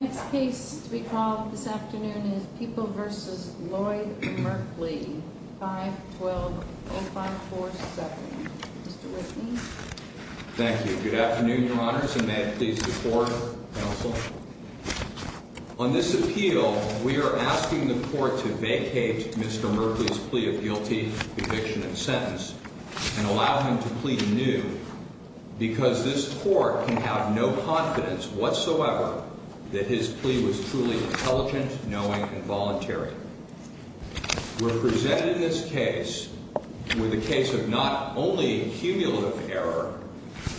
The next case to be called this afternoon is People v. Lloyd Merkley, 512-0547. Mr. Whitney. Thank you. Good afternoon, Your Honors, and may I please report, Counsel? On this appeal, we are asking the Court to vacate Mr. Merkley's plea of guilty, conviction, and sentence, and allow him to plea anew, because this Court can have no confidence whatsoever that his plea was truly intelligent, knowing, and voluntary. We're presented in this case with a case of not only cumulative error,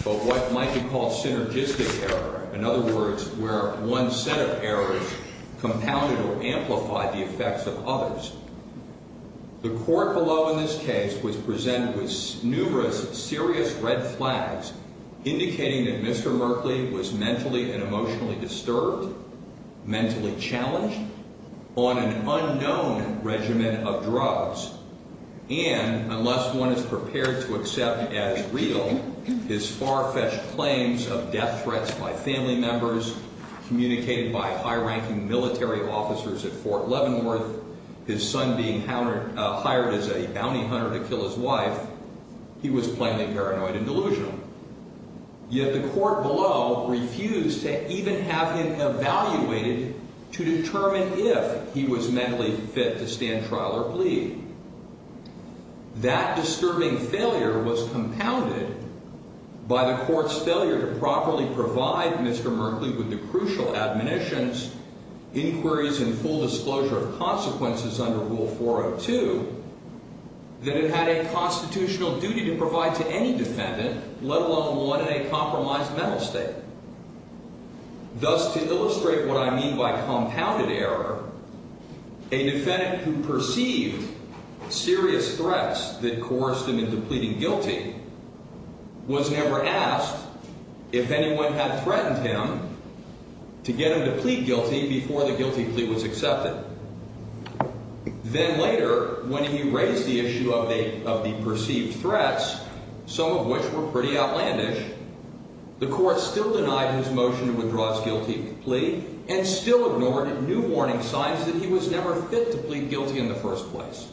but what might be called synergistic error, in other words, where one set of errors compounded or amplified the effects of others. The Court below in this case was presented with numerous serious red flags, indicating that Mr. Merkley was mentally and emotionally disturbed, mentally challenged, on an unknown regimen of drugs, and, unless one is prepared to accept as real his far-fetched claims of death threats by family members, communicated by high-ranking military officers at Fort Leavenworth, his son being hired as a bounty hunter to kill his wife, he was plainly paranoid and delusional. Yet the Court below refused to even have him evaluated to determine if he was mentally fit to stand trial or plea. That disturbing failure was compounded by the Court's failure to properly provide Mr. Merkley with the crucial admonitions, inquiries, and full disclosure of consequences under Rule 402 that it had a constitutional duty to provide to any defendant, let alone one in a compromised mental state. Thus, to illustrate what I mean by compounded error, a defendant who perceived serious threats that coerced him into pleading guilty was never asked if anyone had threatened him to get him to plead guilty before the guilty plea was accepted. Then later, when he raised the issue of the perceived threats, some of which were pretty outlandish, the Court still denied his motion to withdraw his guilty plea and still ignored new warning signs that he was never fit to plead guilty in the first place.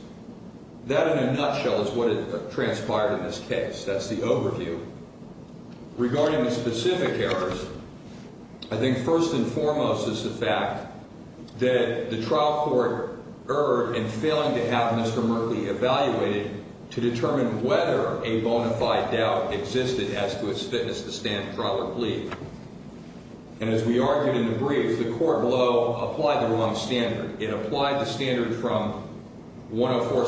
That, in a nutshell, is what transpired in this case. That's the overview. Regarding the specific errors, I think first and foremost is the fact that the trial court erred in failing to have Mr. Merkley evaluated to determine whether a bona fide doubt existed as to his fitness to stand trial or plead. And as we argued in the brief, the Court below applied the wrong standard. It applied the standard from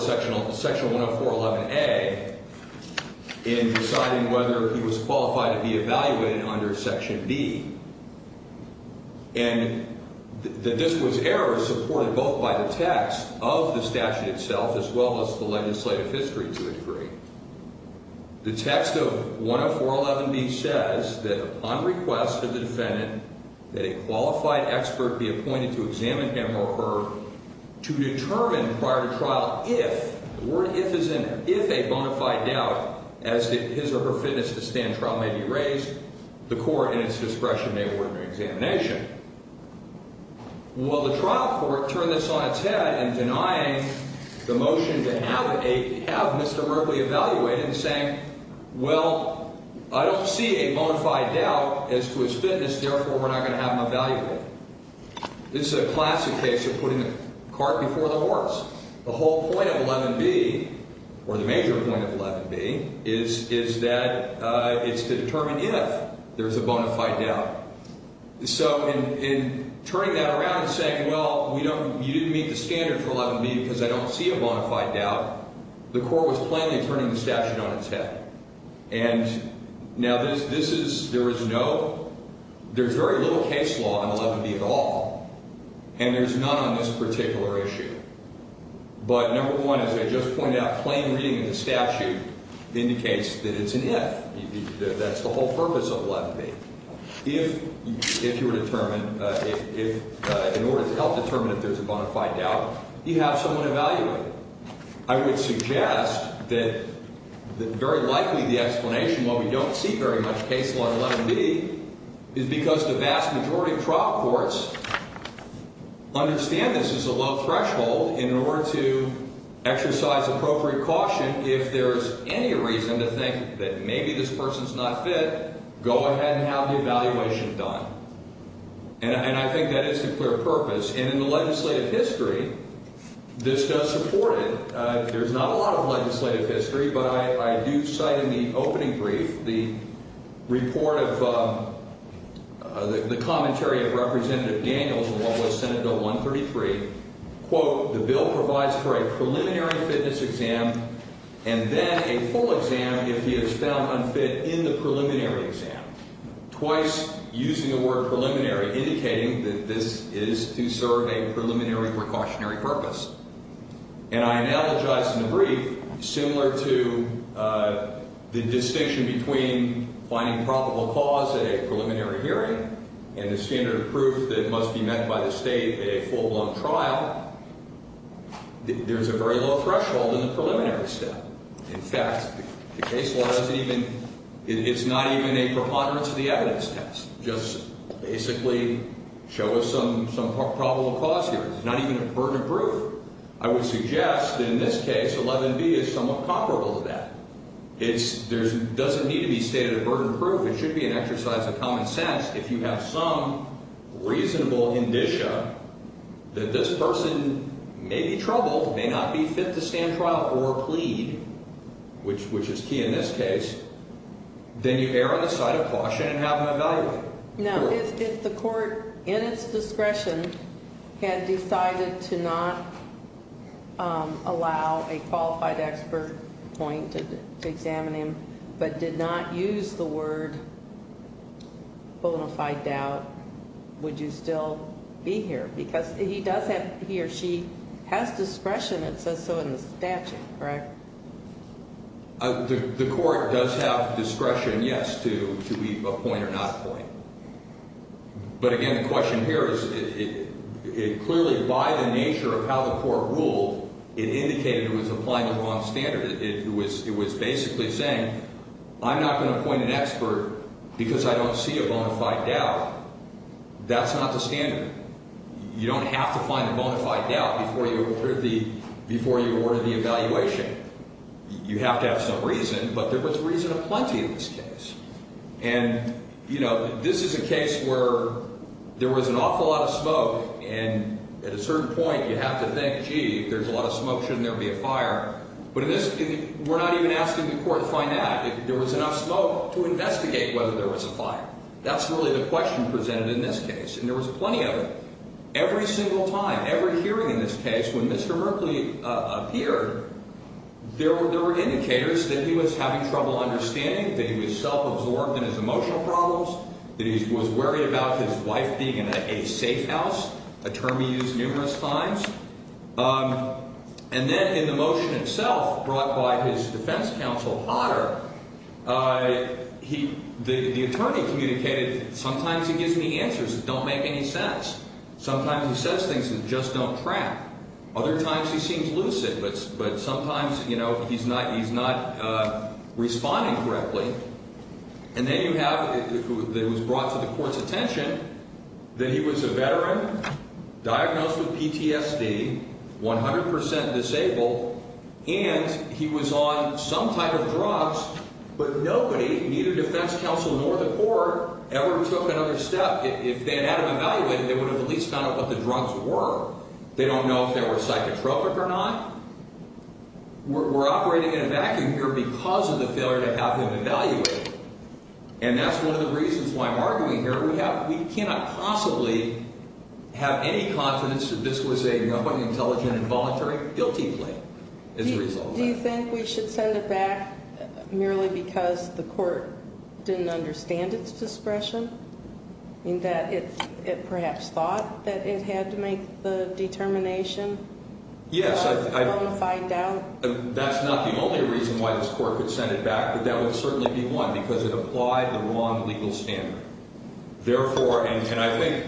Section 104.11a in deciding whether he was qualified to be evaluated under Section b. And that this was error supported both by the text of the statute itself as well as the legislative history to a degree. The text of 104.11b says that upon request of the defendant that a qualified expert be appointed to examine him or her to determine prior to trial if, the word if is in there, if a bona fide doubt as to his or her fitness to stand trial may be raised, the Court in its discretion may award an examination. Well, the trial court turned this on its head in denying the motion to have Mr. Merkley evaluated and saying, well, I don't see a bona fide doubt as to his fitness, therefore we're not going to have him evaluated. This is a classic case of putting the cart before the horse. The whole point of 11b, or the major point of 11b, is that it's to determine if there's a bona fide doubt. So in turning that around and saying, well, you didn't meet the standard for 11b because I don't see a bona fide doubt, the Court was plainly turning the statute on its head. And now this is, there is no, there's very little case law on 11b at all, and there's none on this particular issue. But number one, as I just pointed out, plain reading of the statute indicates that it's an if. That's the whole purpose of 11b. If you were determined, in order to help determine if there's a bona fide doubt, you have someone evaluate it. I would suggest that very likely the explanation, while we don't see very much case law on 11b, is because the vast majority of trial courts understand this as a low threshold in order to exercise appropriate caution. If there's any reason to think that maybe this person's not fit, go ahead and have the evaluation done. And I think that is the clear purpose. And in the legislative history, this does support it. There's not a lot of legislative history, but I do cite in the opening brief the report of the commentary of Representative Daniels in what was Senate Bill 133, quote, the bill provides for a preliminary fitness exam and then a full exam if he is found unfit in the preliminary exam. Twice using the word preliminary, indicating that this is to serve a preliminary precautionary purpose. And I analogize in the brief, similar to the distinction between finding probable cause at a preliminary hearing and the standard of proof that must be met by the State at a full-blown trial, there's a very low threshold in the preliminary step. In fact, the case law doesn't even, it's not even a preponderance of the evidence test. Just basically show us some probable cause here. It's not even a burden of proof. I would suggest in this case 11b is somewhat comparable to that. It doesn't need to be stated a burden of proof. It should be an exercise of common sense. If you have some reasonable indicia that this person may be troubled, may not be fit to stand trial or plead, which is key in this case, then you err on the side of caution and have them evaluated. Now, if the court in its discretion had decided to not allow a qualified expert point to examine him, but did not use the word bona fide doubt, would you still be here? Because he does have, he or she has discretion, it says so in the statute, correct? The court does have discretion, yes, to appoint or not appoint. But again, the question here is it clearly, by the nature of how the court ruled, it indicated it was applying the wrong standard. It was basically saying I'm not going to appoint an expert because I don't see a bona fide doubt. That's not the standard. You don't have to find a bona fide doubt before you order the evaluation. You have to have some reason, but there was reason aplenty in this case. And, you know, this is a case where there was an awful lot of smoke. And at a certain point, you have to think, gee, if there's a lot of smoke, shouldn't there be a fire? But in this case, we're not even asking the court to find out if there was enough smoke to investigate whether there was a fire. That's really the question presented in this case. And there was plenty of it. Every single time, every hearing in this case, when Mr. Merkley appeared, there were indicators that he was having trouble understanding, that he was self-absorbed in his emotional problems, that he was worried about his wife being in a safe house, a term he used numerous times. And then in the motion itself brought by his defense counsel, Otter, the attorney communicated, sometimes he gives me answers that don't make any sense. Sometimes he says things that just don't track. Other times he seems lucid, but sometimes, you know, he's not responding correctly. And then you have, it was brought to the court's attention that he was a veteran, diagnosed with PTSD, 100 percent disabled, and he was on some type of drugs, but nobody, neither defense counsel nor the court, ever took another step. If they had had him evaluated, they would have at least found out what the drugs were. They don't know if they were psychotropic or not. We're operating in a vacuum here because of the failure to have him evaluated, and that's one of the reasons why I'm arguing here. We have, we cannot possibly have any confidence that this was an intelligent and voluntary guilty plea as a result of that. Do you think we should send it back merely because the court didn't understand its discretion, in that it perhaps thought that it had to make the determination? Yes. Do you want to find out? That's not the only reason why this court could send it back, but that would certainly be one, because it applied the wrong legal standard. Therefore, and I think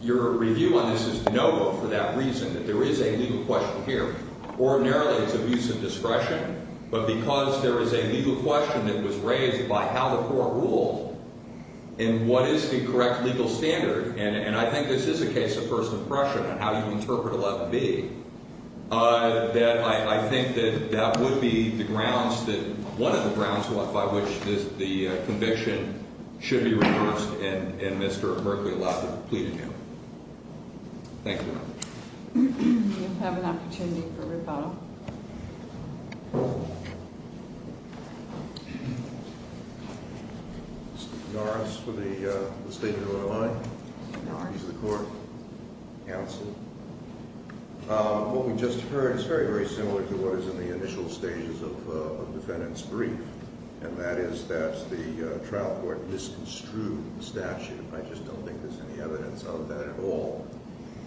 your review on this is noble for that reason, that there is a legal question here. Ordinarily, it's abuse of discretion, but because there is a legal question that was raised by how the court ruled and what is the correct legal standard, and I think this is a case of first impression and how you interpret 11B, that I think that that would be the grounds that, one of the grounds by which the conviction should be reversed, and Mr. Merkley allowed to plead again. Thank you. Do you have an opportunity for rebuttal? Mr. Norris for the statement of the line. Mr. Norris. He's the court counsel. What we just heard is very, very similar to what is in the initial stages of the defendant's brief, and that is that the trial court misconstrued the statute. I just don't think there's any evidence of that at all.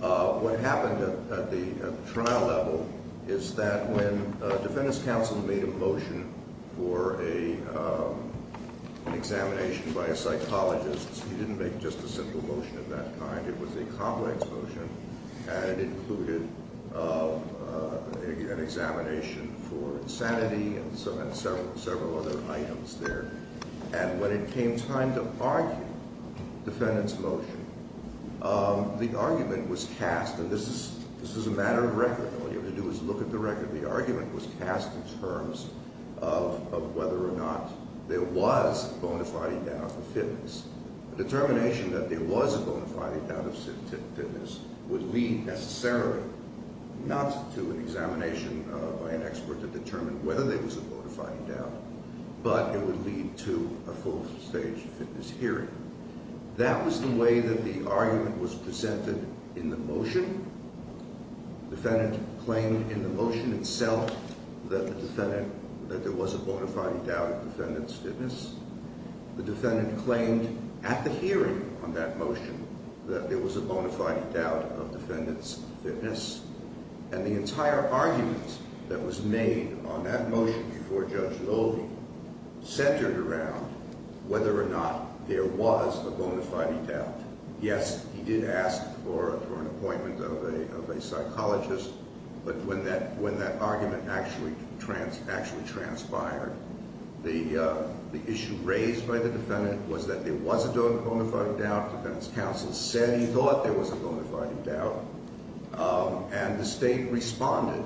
What happened at the trial level is that when a defendant's counsel made a motion for an examination by a psychologist, he didn't make just a simple motion of that kind. It was a complex motion, and it included an examination for insanity and several other items there. And when it came time to argue the defendant's motion, the argument was cast, and this is a matter of record. All you have to do is look at the record. The argument was cast in terms of whether or not there was a bona fide doubt of fitness. The determination that there was a bona fide doubt of fitness would lead necessarily not to an examination by an expert to determine whether there was a bona fide doubt, but it would lead to a full stage fitness hearing. That was the way that the argument was presented in the motion. The defendant claimed in the motion itself that there was a bona fide doubt of the defendant's fitness. The defendant claimed at the hearing on that motion that there was a bona fide doubt of the defendant's fitness. And the entire argument that was made on that motion before Judge Loewe centered around whether or not there was a bona fide doubt. Yes, he did ask for an appointment of a psychologist, but when that argument actually transpired, the issue raised by the defendant was that there was a bona fide doubt. And the state responded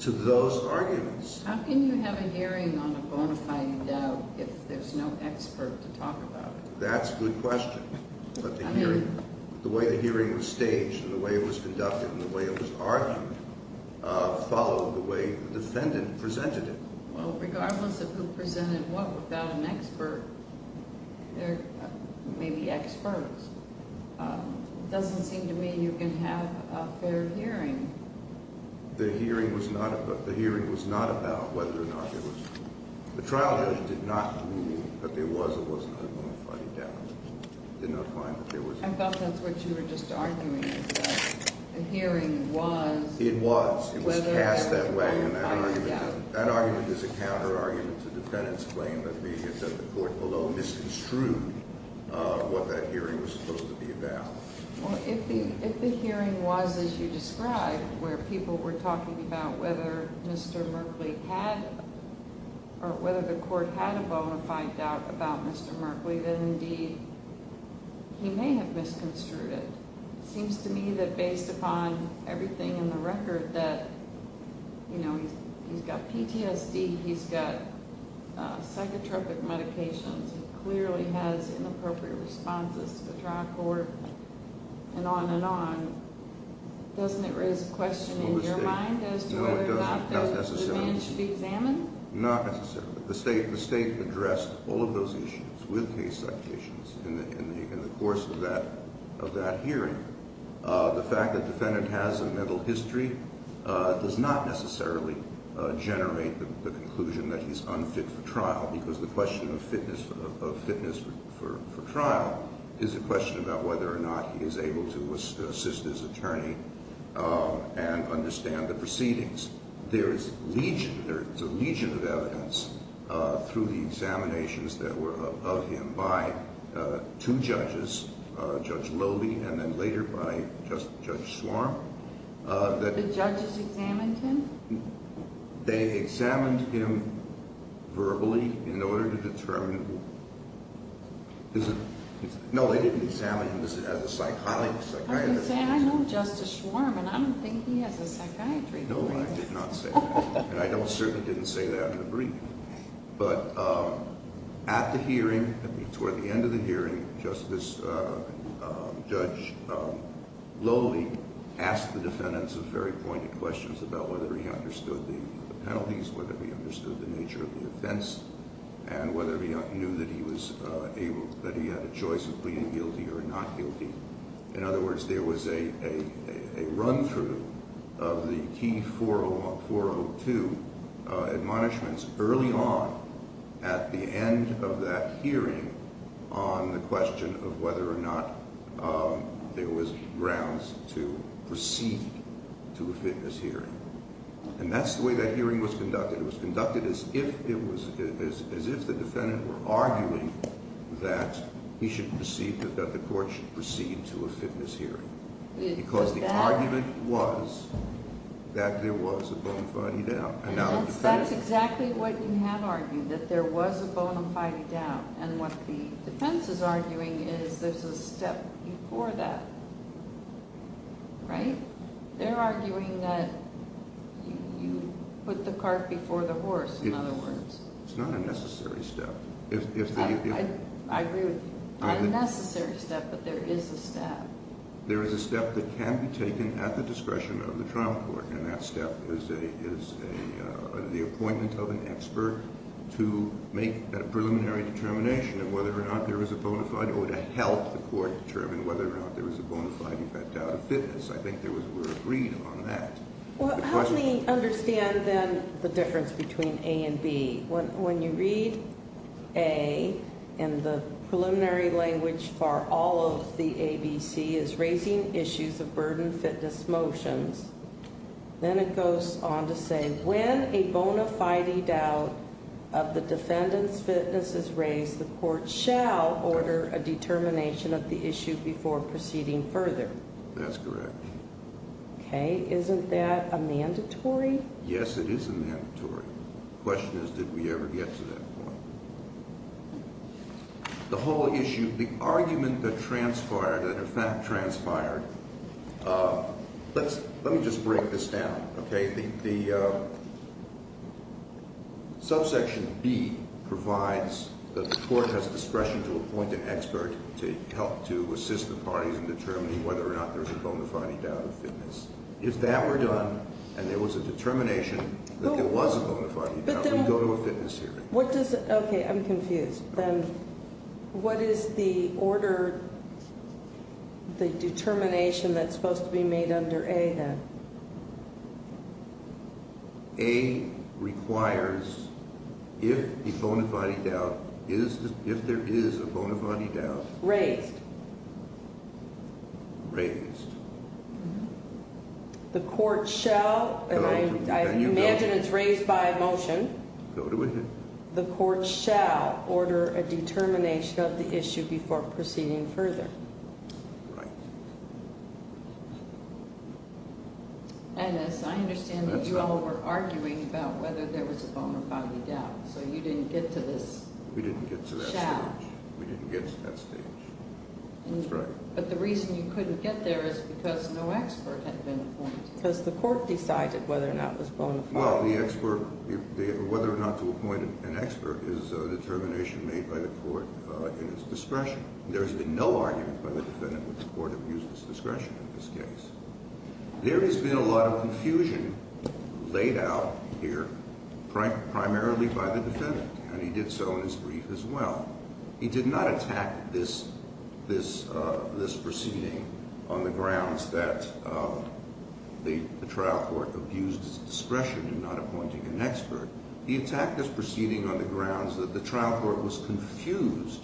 to those arguments. How can you have a hearing on a bona fide doubt if there's no expert to talk about it? That's a good question. The way the hearing was staged and the way it was conducted and the way it was argued followed the way the defendant presented it. Well, regardless of who presented what without an expert, there may be experts. It doesn't seem to me you can have a fair hearing. The hearing was not about whether or not there was a bona fide doubt. The trial judge did not rule that there was a bona fide doubt. I thought that's what you were just arguing, that the hearing was whether or not there was a bona fide doubt. That argument is a counter argument to the defendant's claim that the court below misconstrued what that hearing was supposed to be about. If the hearing was as you described, where people were talking about whether Mr. Merkley had, or whether the court had a bona fide doubt about Mr. Merkley, then indeed he may have misconstrued it. It seems to me that based upon everything in the record that he's got PTSD, he's got psychotropic medications. He clearly has inappropriate responses to the trial court and on and on. Doesn't it raise a question in your mind as to whether or not the defendant should be examined? Not necessarily. The state addressed all of those issues with case secretaries in the course of that hearing. The fact that the defendant has a mental history does not necessarily generate the conclusion that he's unfit for trial, because the question of fitness for trial is a question about whether or not he is able to assist his attorney and understand the proceedings. There is a legion of evidence through the examinations that were of him by two judges, Judge Lobey and then later by Judge Schwarm. The judges examined him? They examined him verbally in order to determine. No, they didn't examine him as a psychologist. I know Justice Schwarm, and I don't think he has a psychiatry degree. No, I did not say that, and I certainly didn't say that in the brief. But at the hearing, toward the end of the hearing, Justice Judge Lobey asked the defendants some very pointed questions about whether he understood the penalties, whether he understood the nature of the offense, and whether he knew that he had a choice of pleading guilty or not guilty. In other words, there was a run-through of the T402 admonishments early on at the end of that hearing on the question of whether or not there was grounds to proceed to a fitness hearing. And that's the way that hearing was conducted. It was conducted as if the defendant were arguing that he should proceed, that the court should proceed to a fitness hearing. Because the argument was that there was a bona fide doubt. And that's exactly what you have argued, that there was a bona fide doubt. And what the defense is arguing is there's a step before that, right? They're arguing that you put the cart before the horse, in other words. It's not a necessary step. I agree with you. Not a necessary step, but there is a step. There is a step that can be taken at the discretion of the trial court. And that step is the appointment of an expert to make a preliminary determination of whether or not there was a bona fide, or to help the court determine whether or not there was a bona fide doubt of fitness. I think there was a word agreed on that. Well, how do we understand, then, the difference between A and B? When you read A, and the preliminary language for all of the ABC is raising issues of burden fitness motions, then it goes on to say, when a bona fide doubt of the defendant's fitness is raised, the court shall order a determination of the issue before proceeding further. That's correct. Okay. Isn't that a mandatory? Yes, it is a mandatory. The question is, did we ever get to that point? The whole issue, the argument that transpired, that in fact transpired, let me just break this down, okay? The subsection B provides that the court has discretion to appoint an expert to help to assist the parties in determining whether or not there's a bona fide doubt of fitness. If that were done, and there was a determination that there was a bona fide doubt, we'd go to a fitness hearing. Okay, I'm confused. What is the order, the determination that's supposed to be made under A, then? A requires, if there is a bona fide doubt. Raised. Raised. The court shall, and I imagine it's raised by a motion. No, it isn't. The court shall order a determination of the issue before proceeding further. Right. Ennis, I understand that you all were arguing about whether there was a bona fide doubt, so you didn't get to this. We didn't get to that stage. Shall. We didn't get to that stage. That's right. But the reason you couldn't get there is because no expert had been appointed. Because the court decided whether or not it was bona fide. Well, the expert, whether or not to appoint an expert is a determination made by the court in its discretion. There has been no argument by the defendant that the court abused its discretion in this case. There has been a lot of confusion laid out here primarily by the defendant, and he did so in his brief as well. He did not attack this proceeding on the grounds that the trial court abused its discretion in not appointing an expert. He attacked this proceeding on the grounds that the trial court was confused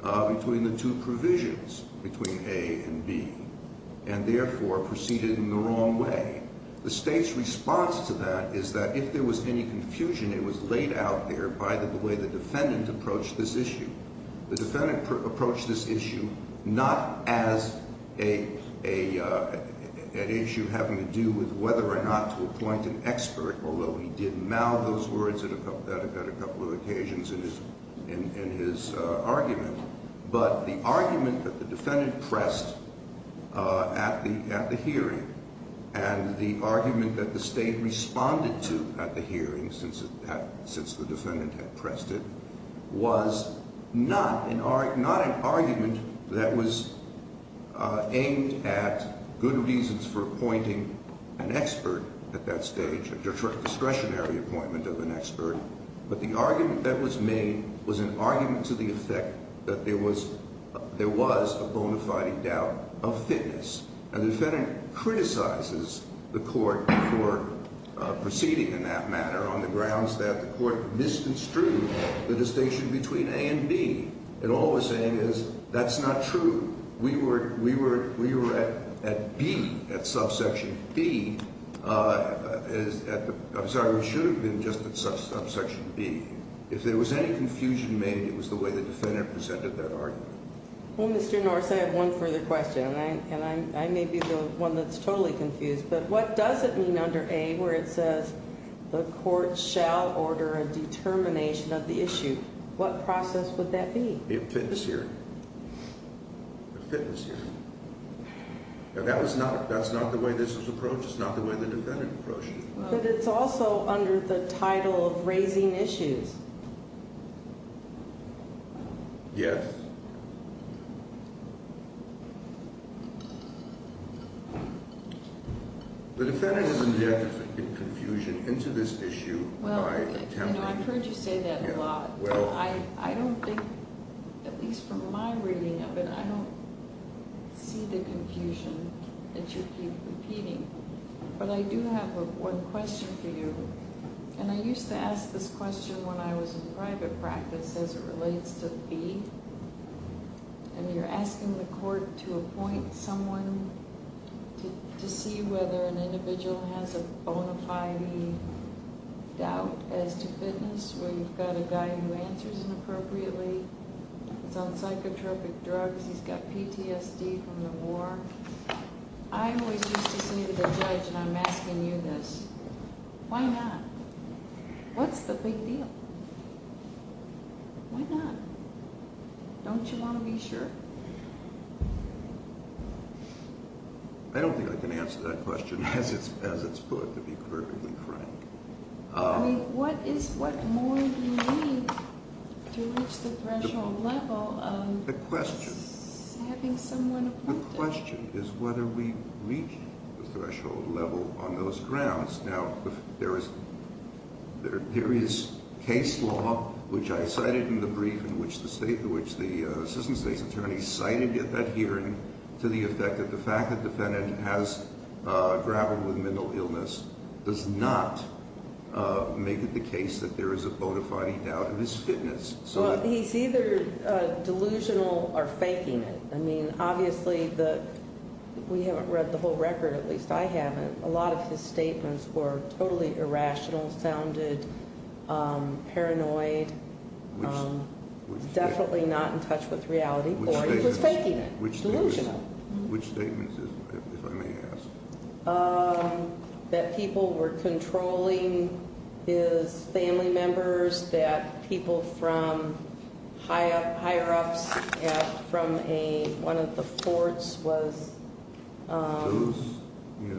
between the two provisions, between A and B, and, therefore, proceeded in the wrong way. The State's response to that is that if there was any confusion, it was laid out there by the way the defendant approached this issue. The defendant approached this issue not as an issue having to do with whether or not to appoint an expert, although he did mouth those words at a couple of occasions in his argument, but the argument that the defendant pressed at the hearing and the argument that the State responded to at the hearing since the defendant had pressed it was not an argument that was aimed at good reasons for appointing an expert at that stage, a discretionary appointment of an expert, but the argument that was made was an argument to the effect that there was a bona fide doubt of fitness, and the defendant criticizes the court for proceeding in that matter on the grounds that the court misconstrued the distinction between A and B. And all we're saying is that's not true. We were at B, at subsection B. I'm sorry, we should have been just at subsection B. If there was any confusion made, it was the way the defendant presented that argument. Well, Mr. Norris, I have one further question, and I may be the one that's totally confused, but what does it mean under A where it says the court shall order a determination of the issue? What process would that be? A fitness hearing. A fitness hearing. That's not the way this was approached. It's not the way the defendant approached it. But it's also under the title of raising issues. Yes. The defendant has indeed put confusion into this issue by attempting to- Well, I've heard you say that a lot. I don't think, at least from my reading of it, I don't see the confusion that you keep repeating. But I do have one question for you. And I used to ask this question when I was in private practice as it relates to B. And you're asking the court to appoint someone to see whether an individual has a bona fide doubt as to fitness. Well, you've got a guy who answers inappropriately. He's on psychotropic drugs. He's got PTSD from the war. I always used to say to the judge when I'm asking you this, why not? What's the big deal? Why not? Don't you want to be sure? I don't think I can answer that question as it's put, to be perfectly frank. I mean, what more do you need to reach the threshold level of- The question. Having someone appointed. The question is whether we reach the threshold level on those grounds. Now, there is case law, which I cited in the brief in which the assistant state's attorney cited at that hearing, to the effect that the fact that the defendant has grappled with mental illness does not make it the case that there is a bona fide doubt in his fitness. Well, he's either delusional or faking it. I mean, obviously, we haven't read the whole record, at least I haven't. A lot of his statements were totally irrational, sounded paranoid, definitely not in touch with reality, or he was faking it, delusional. Which statements, if I may ask? That people were controlling his family members, that people from higher ups from one of the forts was- Those, yeah.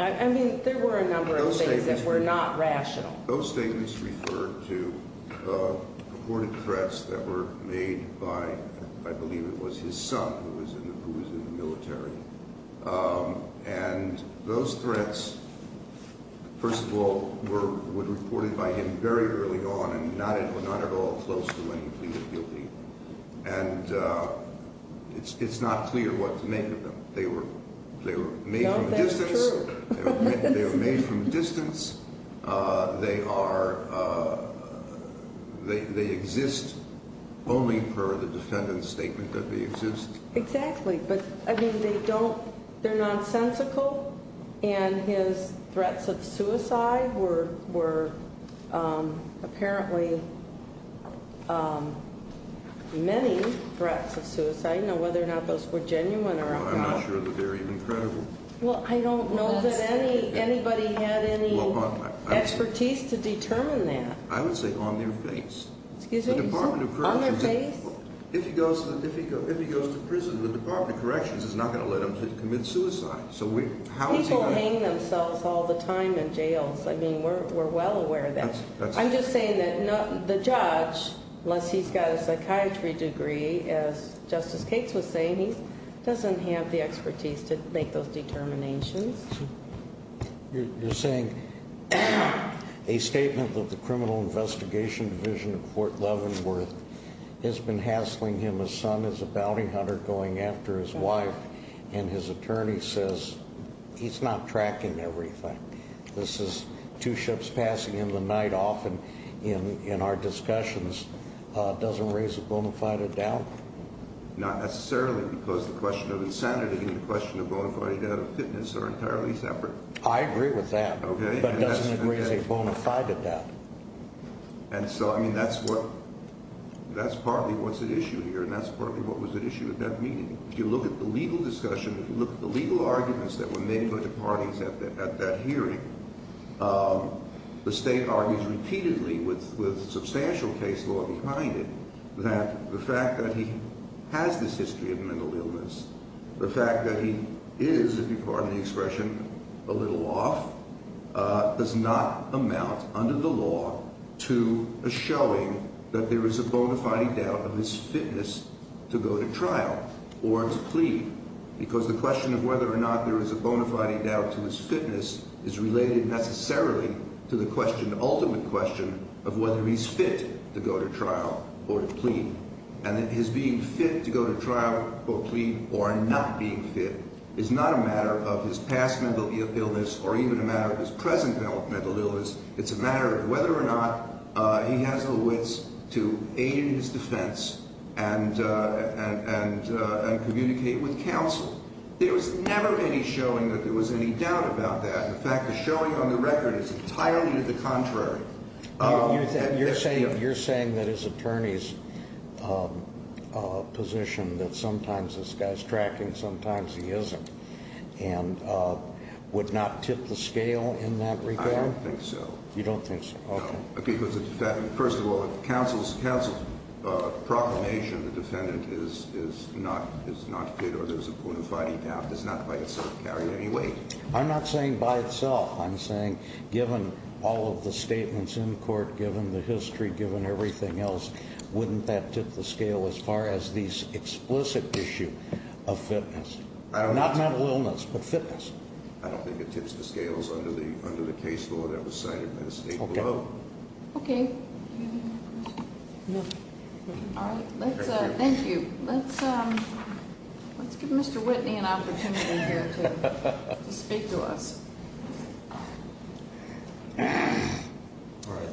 I mean, there were a number of things that were not rational. Those statements referred to purported threats that were made by, I believe it was his son who was in the military. And those threats, first of all, were reported by him very early on and not at all close to when he pleaded guilty. And it's not clear what to make of them. They were made from a distance. No, that's true. They were made from a distance. They exist only per the defendant's statement that they exist. Exactly. But, I mean, they don't- they're nonsensical, and his threats of suicide were apparently many threats of suicide. Now, whether or not those were genuine or not- I'm not sure that they're even credible. Well, I don't know that anybody had any expertise to determine that. I would say on their face. Excuse me? The Department of Corrections- On their face? If he goes to prison, the Department of Corrections is not going to let him commit suicide. So how is he- People hang themselves all the time in jails. I mean, we're well aware of that. I'm just saying that the judge, unless he's got a psychiatry degree, as Justice Cates was saying, he doesn't have the expertise to make those determinations. You're saying a statement that the Criminal Investigation Division of Fort Leavenworth has been hassling him, his son is a bounty hunter going after his wife, and his attorney says he's not tracking everything. This is two ships passing in the night, often in our discussions, doesn't raise a bona fide doubt? Not necessarily, because the question of insanity and the question of bona fide doubt of fitness are entirely separate. I agree with that. Okay. But it doesn't raise a bona fide doubt. And so, I mean, that's what- that's partly what's at issue here, and that's partly what was at issue at that meeting. If you look at the legal discussion, if you look at the legal arguments that were made by the parties at that hearing, the state argues repeatedly with substantial case law behind it that the fact that he has this history of mental illness, the fact that he is, if you pardon the expression, a little off, does not amount under the law to a showing that there is a bona fide doubt of his fitness to go to trial. Or to plead. Because the question of whether or not there is a bona fide doubt to his fitness is related necessarily to the question, ultimate question, of whether he's fit to go to trial or to plead. And that his being fit to go to trial or plead or not being fit is not a matter of his past mental illness or even a matter of his present mental illness. It's a matter of whether or not he has the wits to aid in his defense and communicate with counsel. There was never any showing that there was any doubt about that. The fact of showing on the record is entirely to the contrary. You're saying that his attorney's position that sometimes this guy's tracking, sometimes he isn't, and would not tip the scale in that regard? I don't think so. You don't think so? Okay. Because first of all, if counsel's proclamation, the defendant is not fit or there's a bona fide doubt, does not by itself carry any weight. I'm not saying by itself. I'm saying given all of the statements in court, given the history, given everything else, wouldn't that tip the scale as far as the explicit issue of fitness? Not mental illness, but fitness. I don't think it tips the scales under the case law that was cited in the statement below. Okay. All right. Thank you. Let's give Mr. Whitney an opportunity here to speak to us.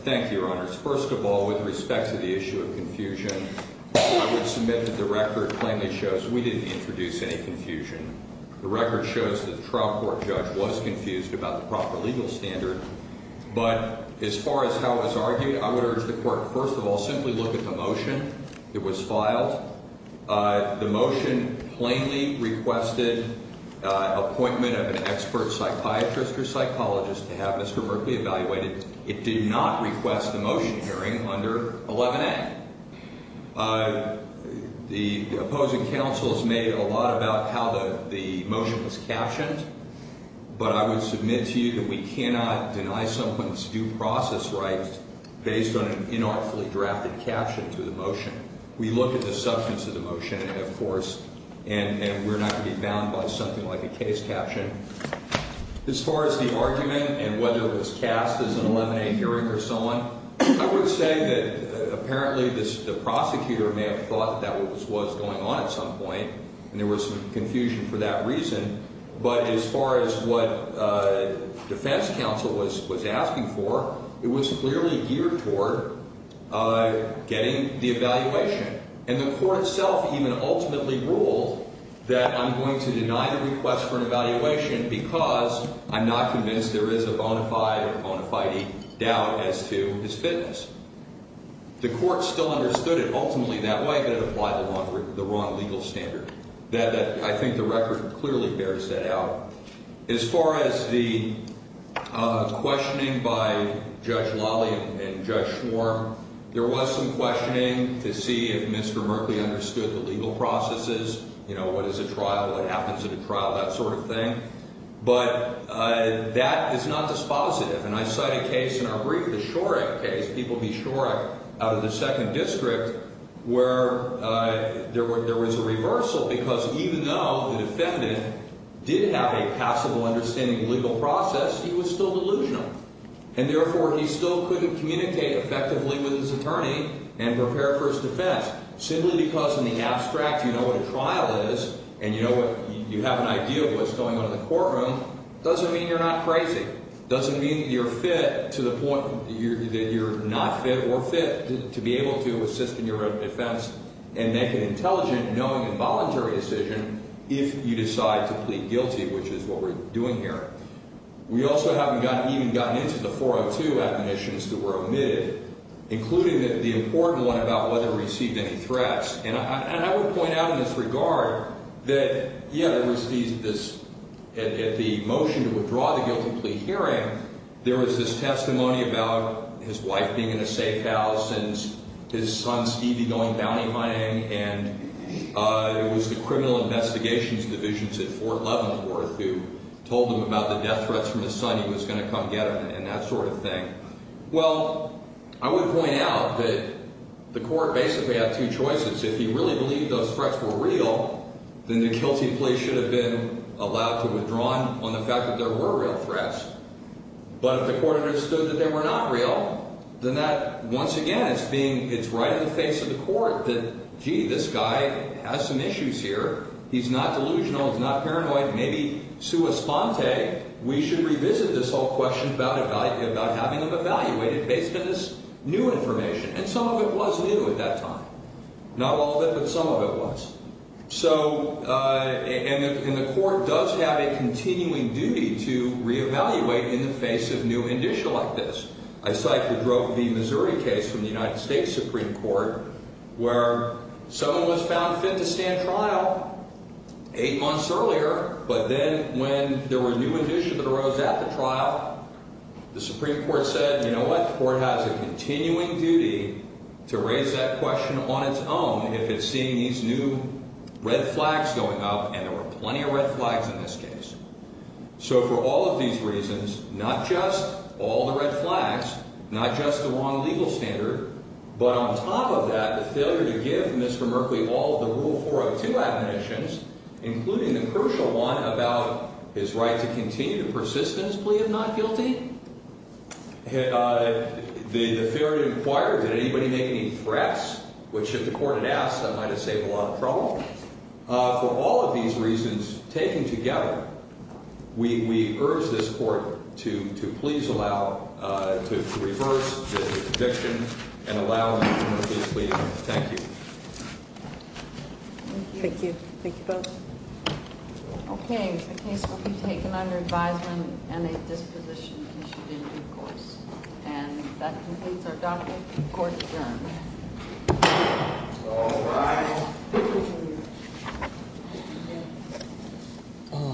Thank you, Your Honors. First of all, with respect to the issue of confusion, I would submit that the record plainly shows we didn't introduce any confusion. The record shows that the trial court judge was confused about the proper legal standard. But as far as how it was argued, I would urge the court, first of all, simply look at the motion that was filed. The motion plainly requested appointment of an expert psychiatrist or psychologist to have Mr. Berkley evaluated. It did not request a motion hearing under 11A. The opposing counsel has made a lot about how the motion was captioned, but I would submit to you that we cannot deny someone's due process rights based on an inartfully drafted caption to the motion. We look at the substance of the motion, of course, and we're not going to be bound by something like a case caption. As far as the argument and whether it was cast as an 11A hearing or so on, I would say that apparently the prosecutor may have thought that was what was going on at some point, and there was some confusion for that reason. But as far as what defense counsel was asking for, it was clearly geared toward getting the evaluation. And the court itself even ultimately ruled that I'm going to deny the request for an evaluation because I'm not convinced there is a bona fide or bona fide doubt as to his fitness. The court still understood it ultimately that way, but it applied the wrong legal standard. I think the record clearly bears that out. As far as the questioning by Judge Lawley and Judge Schwarm, there was some questioning to see if Mr. Merkley understood the legal processes, you know, what is a trial, what happens at a trial, that sort of thing. But that is not dispositive. And I cite a case in our brief, the Shorack case, people be Shorack out of the Second District, where there was a reversal because even though the defendant did have a passable understanding of the legal process, he was still delusional. And therefore, he still couldn't communicate effectively with his attorney and prepare for his defense simply because in the abstract you know what a trial is and you have an idea of what's going on in the courtroom. It doesn't mean you're not crazy. It doesn't mean you're fit to the point that you're not fit or fit to be able to assist in your defense and make an intelligent, knowing, and voluntary decision if you decide to plead guilty, which is what we're doing here. We also haven't even gotten into the 402 admonitions that were omitted, including the important one about whether he received any threats. And I would point out in this regard that, yeah, there was this – at the motion to withdraw the guilty plea hearing, there was this testimony about his wife being in a safe house and his son, Stevie, going bounty hunting. And it was the criminal investigations divisions at Fort Leavenworth who told him about the death threats from his son he was going to come get him and that sort of thing. Well, I would point out that the court basically had two choices. If he really believed those threats were real, then the guilty plea should have been allowed to withdraw on the fact that there were real threats. But if the court understood that they were not real, then that, once again, it's being – it's right in the face of the court that, gee, this guy has some issues here. He's not delusional. He's not paranoid. Maybe, sua sponte, we should revisit this whole question about having him evaluated based on this new information. And some of it was new at that time. Not all of it, but some of it was. So – and the court does have a continuing duty to reevaluate in the face of new indicia like this. I cite the Drove v. Missouri case from the United States Supreme Court where someone was found fit to stand trial eight months earlier, but then when there were new indicia that arose at the trial, the Supreme Court said, you know what? The court has a continuing duty to raise that question on its own if it's seeing these new red flags going up, and there were plenty of red flags in this case. So for all of these reasons, not just all the red flags, not just the wrong legal standard, but on top of that, the failure to give Mr. Merkley all of the Rule 402 admonitions, including the crucial one about his right to continue to persist in his plea of not guilty? The failure to inquire, did anybody make any threats, which if the court had asked, that might have saved a lot of trouble. For all of these reasons taken together, we urge this Court to please allow – to reverse the conviction and allow Mr. Merkley to plead guilty. Thank you. Thank you. Thank you both. Okay, the case will be taken under advisement and a disposition issued in due course. And that completes our document. Court adjourned. All rise.